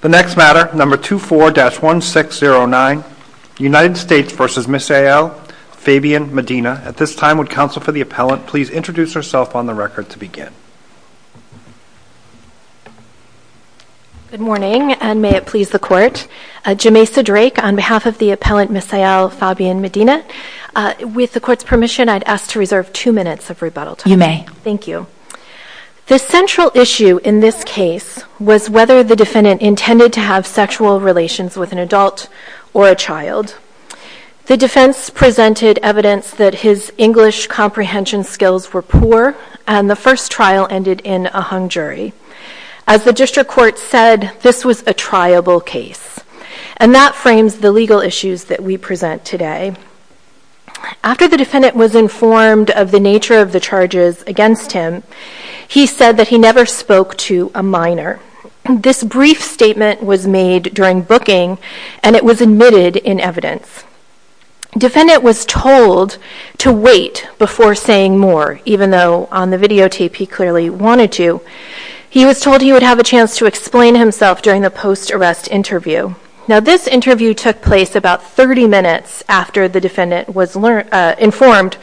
The next matter, number 24-1609, United States v. Ms. Eyal, Fabian, Medina. At this time, would counsel for the appellant please introduce herself on the record to begin? Good morning, and may it please the Court. Jemaisa Drake on behalf of the appellant Ms. Eyal, Fabian, Medina. With the Court's permission, I'd ask to reserve two minutes of rebuttal time. You may. Thank you. The central issue in this case was whether the defendant intended to have sexual relations with an adult or a child. The defense presented evidence that his English comprehension skills were poor, and the first trial ended in a hung jury. As the District Court said, this was a triable case. And that frames the legal issues that we present today. After the defendant was informed of the nature of the charges against him, he said that he never spoke to a minor. This brief statement was made during booking, and it was admitted in evidence. Defendant was told to wait before saying more, even though on the videotape he clearly wanted to. He was told he would have a chance to explain himself during the post-arrest interview. This interview took place about 30 minutes after the defendant was informed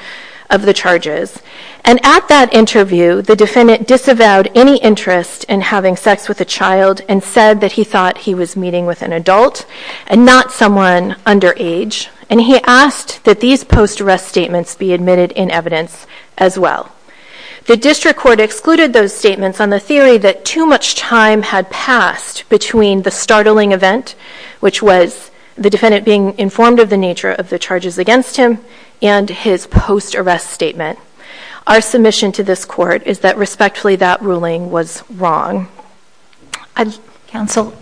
of the charges. And at that interview, the defendant disavowed any interest in having sex with a child and said that he thought he was meeting with an adult and not someone underage. And he asked that these post-arrest statements be admitted in evidence as well. The District Court excluded those statements on the theory that too much time had passed between the startling event, which was the defendant being informed of the nature of the charges against him, and his post-arrest statement. Our submission to this Court is that, respectfully, that ruling was wrong. Counsel,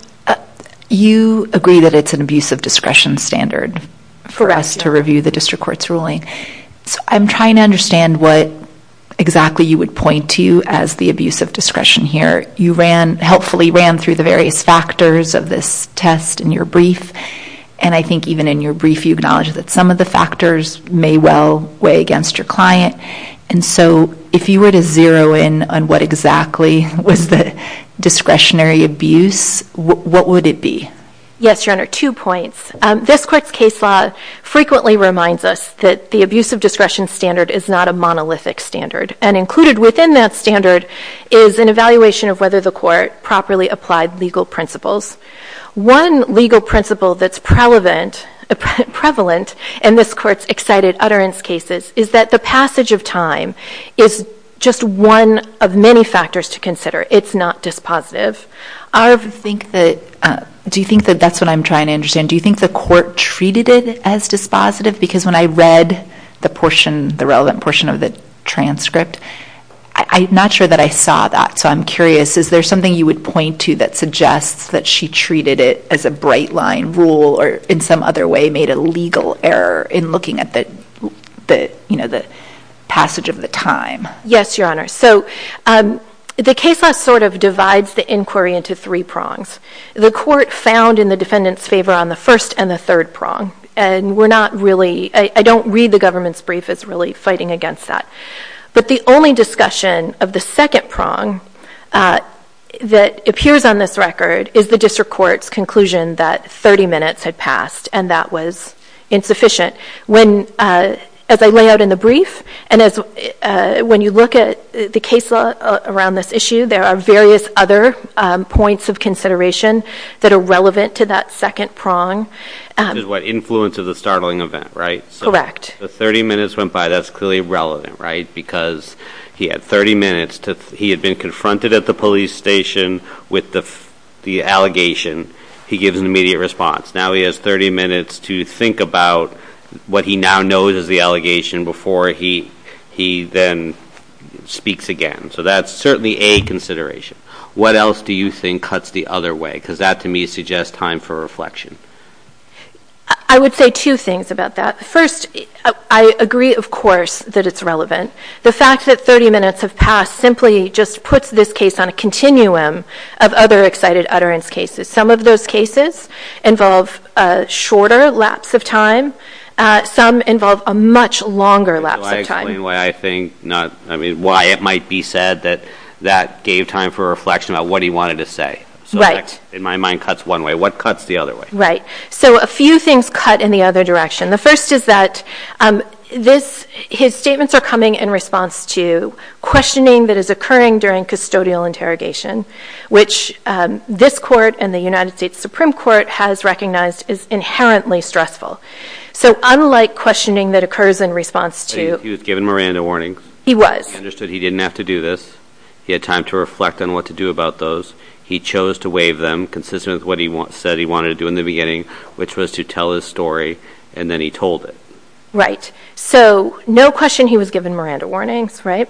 you agree that it's an abuse of discretion standard for us to review the District Court's So I'm trying to understand what exactly you would point to as the abuse of discretion here. You ran, helpfully ran, through the various factors of this test in your brief. And I think even in your brief, you acknowledged that some of the factors may well weigh against your client. And so if you were to zero in on what exactly was the discretionary abuse, what would it be? Yes, Your Honor, two points. This Court's case law frequently reminds us that the abuse of discretion standard is not a monolithic standard. And included within that standard is an evaluation of whether the Court properly applied legal principles. One legal principle that's prevalent in this Court's excited utterance cases is that the passage of time is just one of many factors to consider. It's not dispositive. Do you think that that's what I'm trying to understand? Do you think the Court treated it as dispositive? Because when I read the portion, the relevant portion of the transcript, I'm not sure that I saw that. So I'm curious, is there something you would point to that suggests that she treated it as a bright line rule or in some other way made a legal error in looking at the passage of the time? Yes, Your Honor. So the case law sort of divides the inquiry into three prongs. The Court found in the defendant's favor on the first and the third prong. And we're not really, I don't read the government's brief as really fighting against that. But the only discussion of the second prong that appears on this record is the District Court's conclusion that 30 minutes had passed and that was insufficient. When, as I lay out in the brief, and when you look at the case law around this issue, there are various other points of consideration that are relevant to that second prong. Which is what? Influence of the startling event, right? Correct. So 30 minutes went by, that's clearly relevant, right? Because he had 30 minutes, he had been confronted at the police station with the allegation, he gives an immediate response. Now he has 30 minutes to think about what he now knows is the allegation before he then speaks again. So that's certainly a consideration. What else do you think cuts the other way? Because that, to me, suggests time for reflection. I would say two things about that. First, I agree, of course, that it's relevant. The fact that 30 minutes have passed simply just puts this case on a continuum of other excited utterance cases. Some of those cases involve a shorter lapse of time, some involve a much longer lapse of time. Can you explain why it might be said that that gave time for reflection about what he wanted to say? Right. So that, in my mind, cuts one way. What cuts the other way? Right. So a few things cut in the other direction. The first is that his statements are coming in response to questioning that is occurring during custodial interrogation, which this court and the United States Supreme Court has recognized is inherently stressful. So unlike questioning that occurs in response to... He was given Miranda warnings. He was. He understood he didn't have to do this. He had time to reflect on what to do about those. He chose to waive them consistent with what he said he wanted to do in the beginning, which was to tell his story, and then he told it. Right. So no question he was given Miranda warnings, right?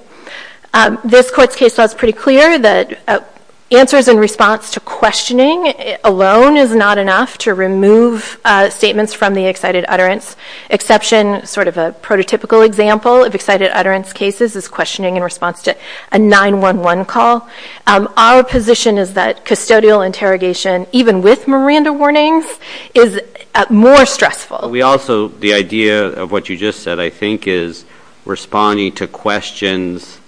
This court's case law is pretty clear that answers in response to questioning alone is not enough to remove statements from the excited utterance exception. Sort of a prototypical example of excited utterance cases is questioning in response to a 911 call. Our position is that custodial interrogation, even with Miranda warnings, is more stressful. We also... The idea of what you just said, I think, is responding to questions,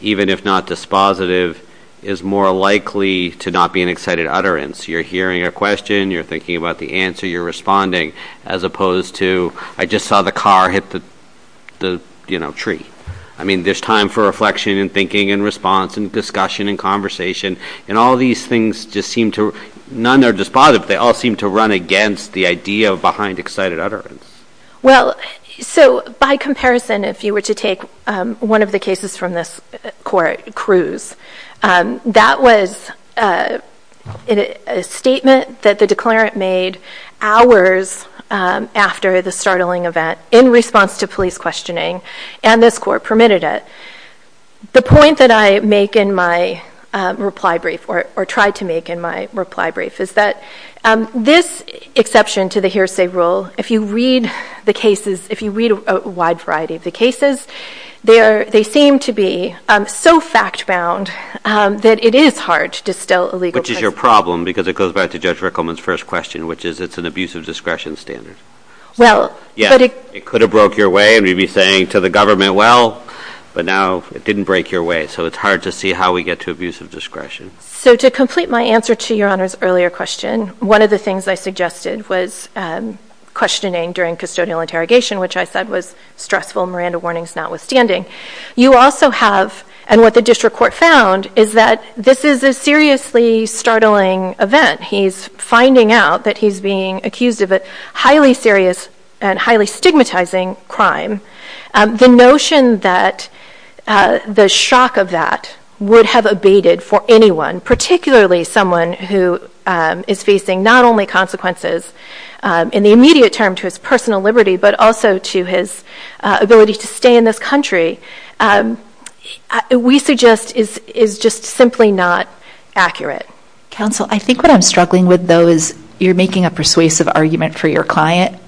even if not dispositive, is more likely to not be an excited utterance. You're hearing a question, you're thinking about the answer, you're responding, as opposed to, I just saw the car hit the tree. I mean, there's time for reflection and thinking and response and discussion and conversation, and all these things just seem to... None are dispositive, they all seem to run against the idea behind excited utterance. Well, so by comparison, if you were to take one of the cases from this court, Cruz, that was a statement that the declarant made hours after the startling event in response to police questioning. And this court permitted it. The point that I make in my reply brief, or tried to make in my reply brief, is that this exception to the hearsay rule, if you read the cases, if you read a wide variety of the cases, they seem to be so fact-bound that it is hard to distill a legal precedent. Which is your problem, because it goes back to Judge Rickleman's first question, which is, it's an abuse of discretion standard. Well, but it... It didn't break your way, and you'd be saying to the government, well, but now it didn't break your way. So it's hard to see how we get to abuse of discretion. So to complete my answer to Your Honor's earlier question, one of the things I suggested was questioning during custodial interrogation, which I said was stressful, Miranda warnings notwithstanding. You also have, and what the district court found, is that this is a seriously startling event. He's finding out that he's being accused of a highly serious and highly stigmatizing crime. The notion that the shock of that would have abated for anyone, particularly someone who is facing not only consequences in the immediate term to his personal liberty, but also to his ability to stay in this country, we suggest is just simply not accurate. Counsel, I think what I'm struggling with, though, is you're making a persuasive argument for your client,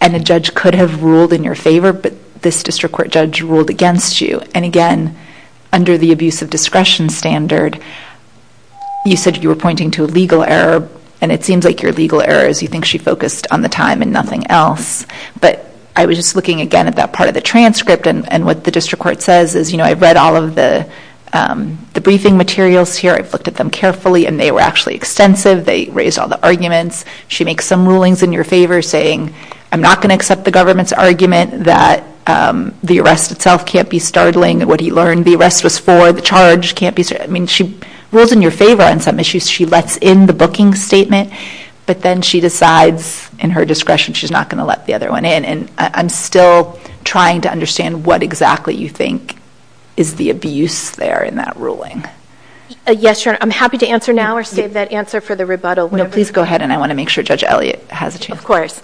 and the judge could have ruled in your favor, but this district court judge ruled against you. And again, under the abuse of discretion standard, you said you were pointing to a legal error, and it seems like your legal error is you think she focused on the time and nothing else. But I was just looking, again, at that part of the transcript, and what the district court says is, you know, I've read all of the briefing materials here. I've looked at them carefully, and they were actually extensive. They raised all the arguments. She makes some rulings in your favor, saying, I'm not going to accept the government's argument that the arrest itself can't be startling. What he learned, the arrest was for, the charge can't be, I mean, she rules in your favor on some issues. She lets in the booking statement, but then she decides in her discretion she's not going to let the other one in. And I'm still trying to understand what exactly you think is the abuse there in that ruling. Yes, Your Honor. I'm happy to answer now or save that answer for the rebuttal. No, please go ahead, and I want to make sure Judge Elliott has a chance. Of course.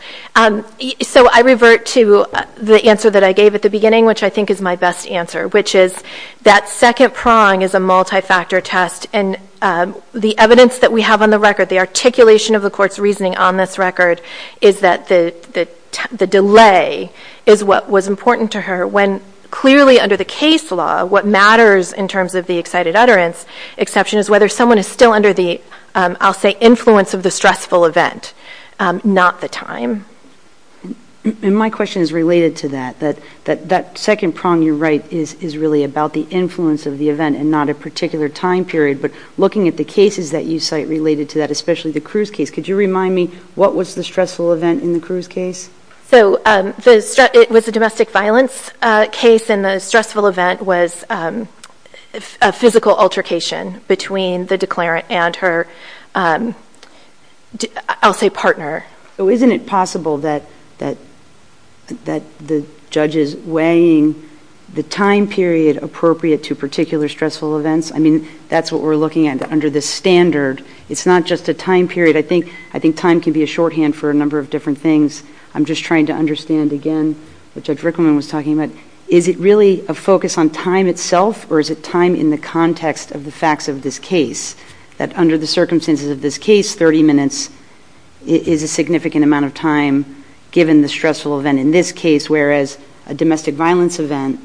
So I revert to the answer that I gave at the beginning, which I think is my best answer, which is that second prong is a multi-factor test. And the evidence that we have on the record, the articulation of the court's reasoning on this record, is that the delay is what was important to her, when clearly under the case law, what matters in terms of the excited utterance exception is whether someone is still under the, I'll say, influence of the stressful event, not the time. And my question is related to that, that that second prong you write is really about the influence of the event and not a particular time period. But looking at the cases that you cite related to that, especially the Cruz case, could you remind me what was the stressful event in the Cruz case? So it was a domestic violence case, and the stressful event was a physical altercation between the declarant and her, I'll say, partner. So isn't it possible that the judge is weighing the time period appropriate to particular stressful events? I mean, that's what we're looking at under this standard. It's not just a time period. I think time can be a shorthand for a number of different things. I'm just trying to understand, again, what Judge Rickleman was talking about. Is it really a focus on time itself, or is it time in the context of the facts of this case, that under the circumstances of this case, 30 minutes is a significant amount of time given the stressful event in this case, whereas a domestic violence event,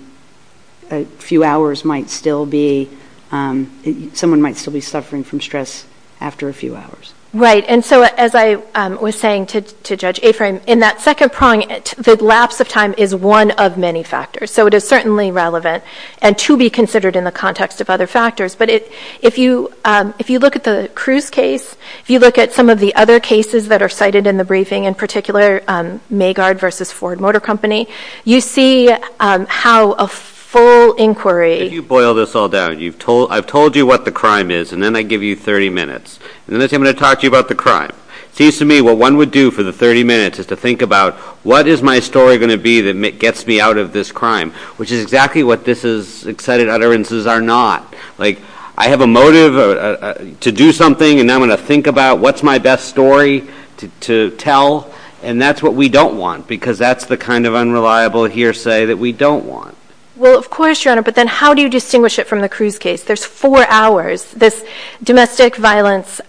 a few hours might still be, someone might still be suffering from stress after a few hours? Right. And so, as I was saying to Judge Aframe, in that second prong, the lapse of time is one of many factors. So it is certainly relevant, and to be considered in the context of other factors. But if you look at the Cruz case, if you look at some of the other cases that are cited in the briefing, in particular, Maygard versus Ford Motor Company, you see how a full inquiry If you boil this all down, I've told you what the crime is, and then I give you 30 minutes. And then I say, I'm going to talk to you about the crime. It seems to me what one would do for the 30 minutes is to think about, what is my story going to be that gets me out of this crime, which is exactly what this is, excited utterances are not. Like, I have a motive to do something, and I'm going to think about what's my best story to tell, and that's what we don't want, because that's the kind of unreliable hearsay that we don't want. Well, of course, Your Honor, but then how do you distinguish it from the Cruz case? There's four hours. This domestic violence,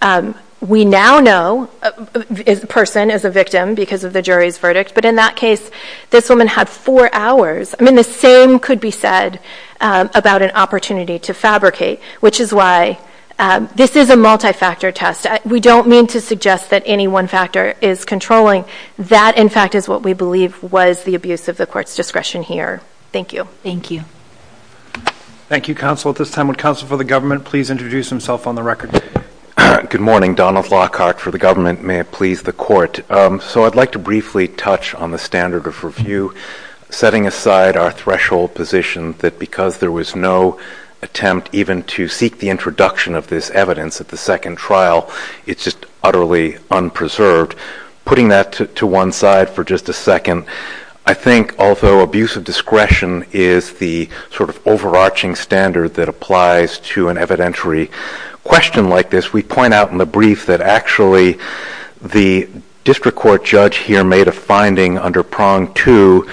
we now know the person is a victim because of the jury's verdict, but in that case, this woman had four hours. I mean, the same could be said about an opportunity to fabricate, which is why this is a multi-factor test. We don't mean to suggest that any one factor is controlling. That in fact is what we believe was the abuse of the court's discretion here. Thank you. Thank you. Thank you, counsel. At this time, would counsel for the government please introduce himself on the record? Good morning. Donald Lockhart for the government. May it please the court. So I'd like to briefly touch on the standard of review, setting aside our threshold position that because there was no attempt even to seek the introduction of this evidence at the second trial, it's just utterly unpreserved. Putting that to one side for just a second, I think although abuse of discretion is the sort of overarching standard that applies to an evidentiary question like this, we point out in the brief that actually the district court judge here made a finding under prong two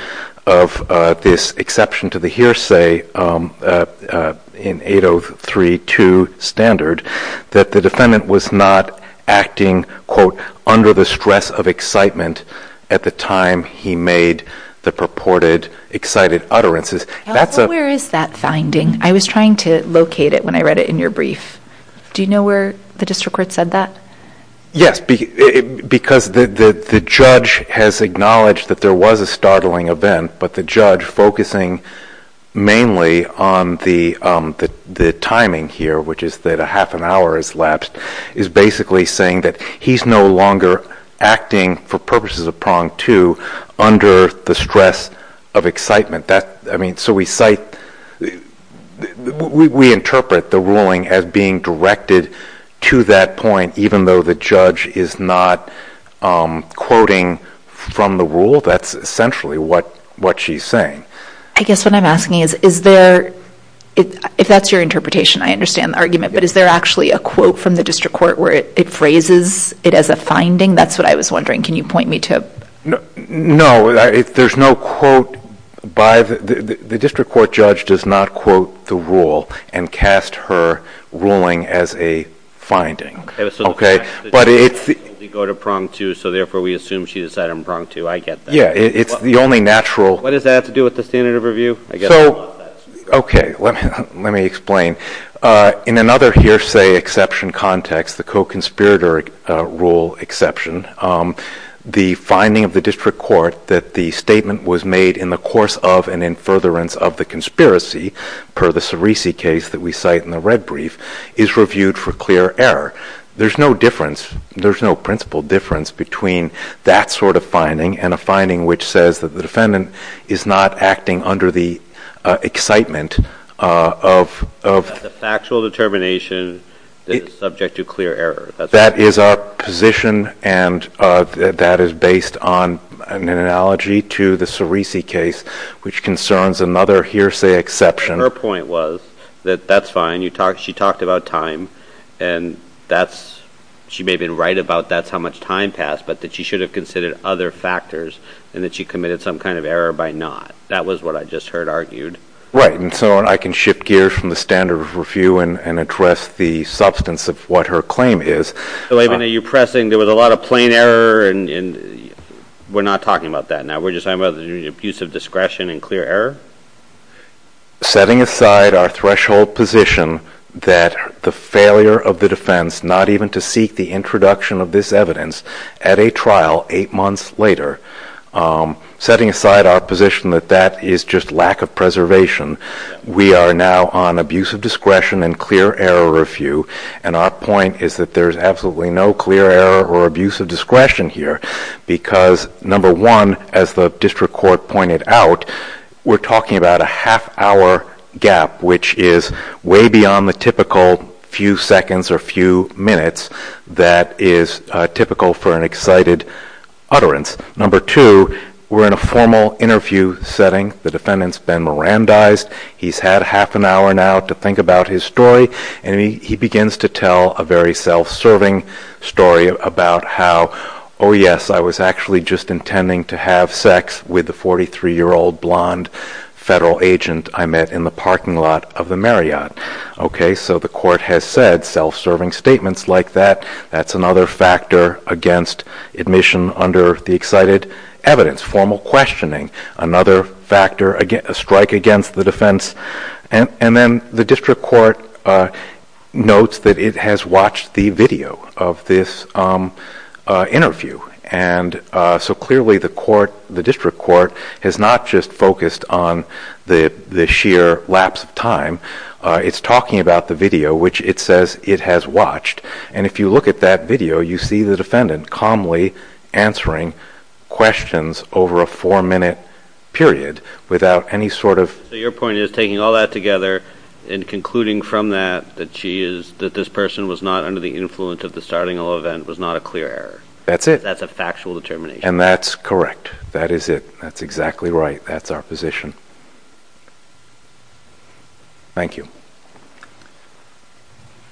of this exception to the hearsay in 8032 standard that the defendant was not acting quote, under the stress of excitement at the time he made the purported excited utterances. Counsel, where is that finding? I was trying to locate it when I read it in your brief. Do you know where the district court said that? Yes, because the judge has acknowledged that there was a startling event, but the judge focusing mainly on the timing here, which is that a half an hour has lapsed, is basically saying that he's no longer acting for purposes of prong two under the stress of excitement. So we interpret the ruling as being directed to that point even though the judge is not quoting from the rule. That's essentially what she's saying. I guess what I'm asking is, if that's your interpretation, I understand the argument, but is there actually a quote from the district court where it phrases it as a finding? That's what I was wondering. Can you point me to it? No, there's no quote by the district court judge does not quote the rule and cast her ruling as a finding. But it's the- Go to prong two, so therefore we assume she decided on prong two. I get that. Yeah. It's the only natural- What does that have to do with the standard of review? I guess I don't want that to be- Okay. Let me explain. In another hearsay exception context, the co-conspirator rule exception, the finding of the district court that the statement was made in the course of and in furtherance of the conspiracy, per the Cerisi case that we cite in the red brief, is reviewed for clear error. There's no difference. There's no principle difference between that sort of finding and a finding which says that the defendant is not acting under the excitement of- The factual determination that is subject to clear error. That is our position and that is based on an analogy to the Cerisi case, which concerns another hearsay exception. Her point was that that's fine. She talked about time and that's, she may have been right about that's how much time passed, but that she should have considered other factors and that she committed some kind of error by not. That was what I just heard argued. And so I can shift gears from the standard of review and address the substance of what her claim is. So even though you're pressing, there was a lot of plain error and we're not talking about that now. We're just talking about the use of discretion and clear error? Setting aside our threshold position that the failure of the defense not even to seek the introduction of this evidence at a trial eight months later, setting aside our position that that is just lack of preservation. We are now on abuse of discretion and clear error review. And our point is that there's absolutely no clear error or abuse of discretion here because number one, as the district court pointed out, we're talking about a half hour gap, which is way beyond the typical few seconds or few minutes that is typical for an excited utterance. Number two, we're in a formal interview setting. The defendant's been Mirandized. He's had half an hour now to think about his story and he begins to tell a very self-serving story about how, oh yes, I was actually just intending to have sex with the 43-year-old blonde federal agent I met in the parking lot of the Marriott. So the court has said self-serving statements like that. That's another factor against admission under the excited evidence. Formal questioning, another factor, a strike against the defense. And then the district court notes that it has watched the video of this interview. And so clearly the district court has not just focused on the sheer lapse of time. It's talking about the video, which it says it has watched. And if you look at that video, you see the defendant calmly answering questions over a four minute period without any sort of... Your point is taking all that together and concluding from that that this person was not under the influence of the starting of the event was not a clear error. That's it. That's a factual determination. And that's correct. That is it. That's exactly right. That's our position. Thank you.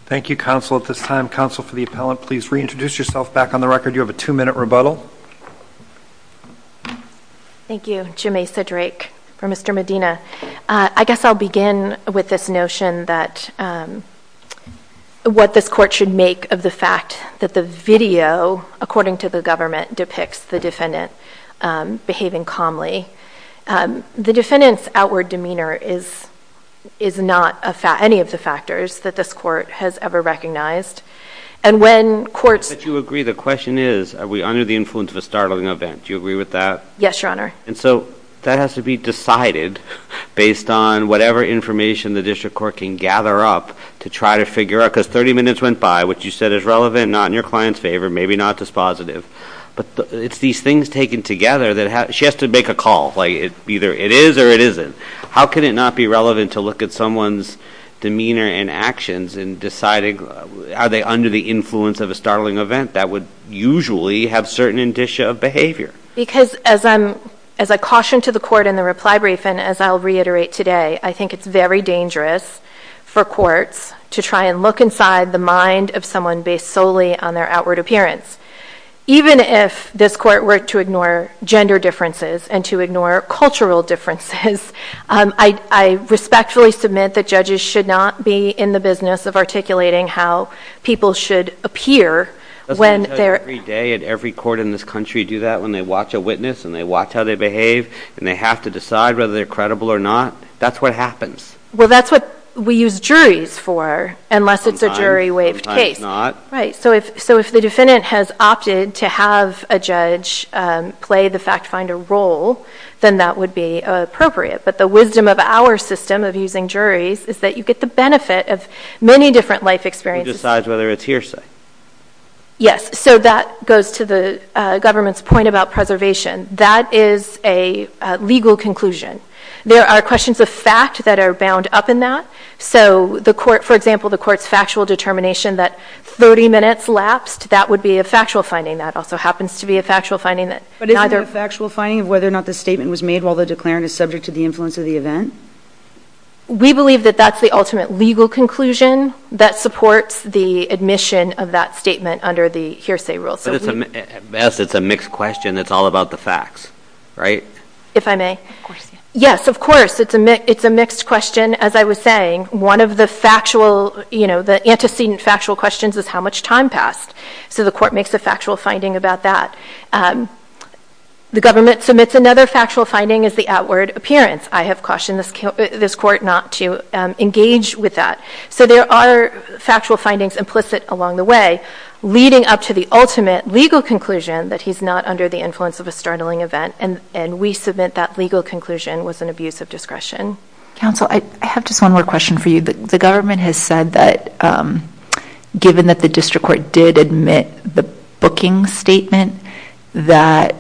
Thank you, counsel, at this time. Counsel for the appellant, please reintroduce yourself back on the record. You have a two minute rebuttal. Thank you. Jemaisa Drake for Mr. Medina. I guess I'll begin with this notion that what this court should make of the fact that the video, according to the government, depicts the defendant behaving calmly. The defendant's outward demeanor is not any of the factors that this court has ever recognized. And when courts... But you agree, the question is, are we under the influence of a startling event? Do you agree with that? Yes, your honor. And so that has to be decided based on whatever information the district court can gather up to try to figure out, because 30 minutes went by, what you said is relevant, not in your client's favor, maybe not dispositive, but it's these things taken together that have... She has to make a call. Either it is or it isn't. How can it not be relevant to look at someone's demeanor and actions and deciding are they under the influence of a startling event that would usually have certain indicia of behavior? Because as I caution to the court in the reply brief, and as I'll reiterate today, I think it's very dangerous for courts to try and look inside the mind of someone based solely on their outward appearance. Even if this court were to ignore gender differences and to ignore cultural differences, I respectfully submit that judges should not be in the business of articulating how people should appear when they're... Doesn't every day at every court in this country do that, when they watch a witness and they watch how they behave and they have to decide whether they're credible or not? That's what happens. Well, that's what we use juries for, unless it's a jury waived case. It's not. Right. So if the defendant has opted to have a judge play the fact finder role, then that would be appropriate. But the wisdom of our system of using juries is that you get the benefit of many different life experiences. Who decides whether it's hearsay. Yes. So that goes to the government's point about preservation. That is a legal conclusion. There are questions of fact that are bound up in that. So the court, for example, the court's factual determination that 30 minutes lapsed, that would be a factual finding. That also happens to be a factual finding that neither... But isn't it a factual finding of whether or not the statement was made while the declarant is subject to the influence of the event? We believe that that's the ultimate legal conclusion that supports the admission of that statement under the hearsay rule. So we... Yes, it's a mixed question that's all about the facts, right? If I may. Of course. Yes, of course. It's a mixed question, as I was saying. One of the factual, you know, the antecedent factual questions is how much time passed. So the court makes a factual finding about that. The government submits another factual finding as the outward appearance. I have cautioned this court not to engage with that. So there are factual findings implicit along the way, leading up to the ultimate legal conclusion that he's not under the influence of a startling event. And we submit that legal conclusion was an abuse of discretion. Counsel, I have just one more question for you. The government has said that given that the district court did admit the booking statement, that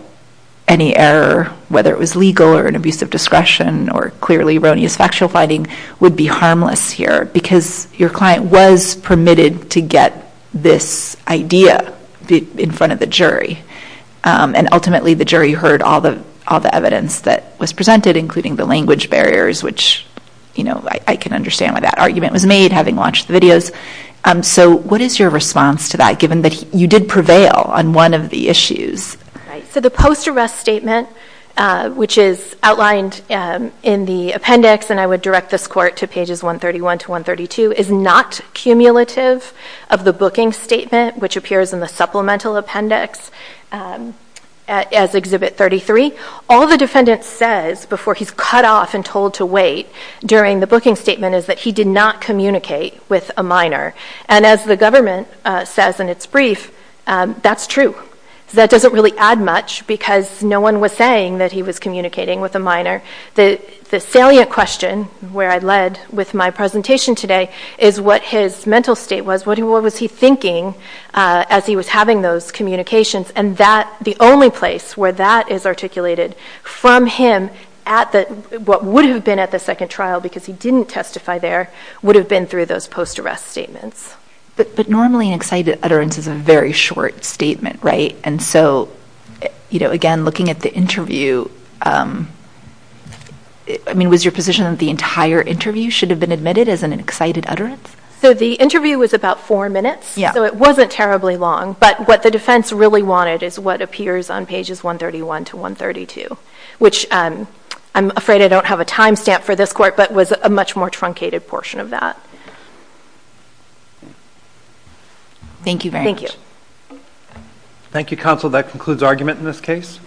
any error, whether it was legal or an abuse of discretion or clearly erroneous factual finding would be harmless here because your client was permitted to get this idea in front of the jury. And ultimately, the jury heard all the evidence that was presented, including the language barriers, which, you know, I can understand why that argument was made, having watched the videos. So what is your response to that, given that you did prevail on one of the issues? Right. So the post-arrest statement, which is outlined in the appendix, and I would direct this court to pages 131 to 132, is not cumulative of the booking statement, which appears in the appendix as Exhibit 33. All the defendant says before he's cut off and told to wait during the booking statement is that he did not communicate with a minor. And as the government says in its brief, that's true. That doesn't really add much because no one was saying that he was communicating with a minor. The salient question, where I led with my presentation today, is what his mental state was. What was he thinking as he was having those communications? And the only place where that is articulated from him at what would have been at the second trial, because he didn't testify there, would have been through those post-arrest statements. But normally an excited utterance is a very short statement, right? And so, you know, again, looking at the interview, I mean, was your position that the entire interview should have been admitted as an excited utterance? So the interview was about four minutes, so it wasn't terribly long. But what the defense really wanted is what appears on pages 131 to 132, which I'm afraid I don't have a time stamp for this court, but was a much more truncated portion of that. Thank you very much. Thank you, counsel. That concludes argument in this case.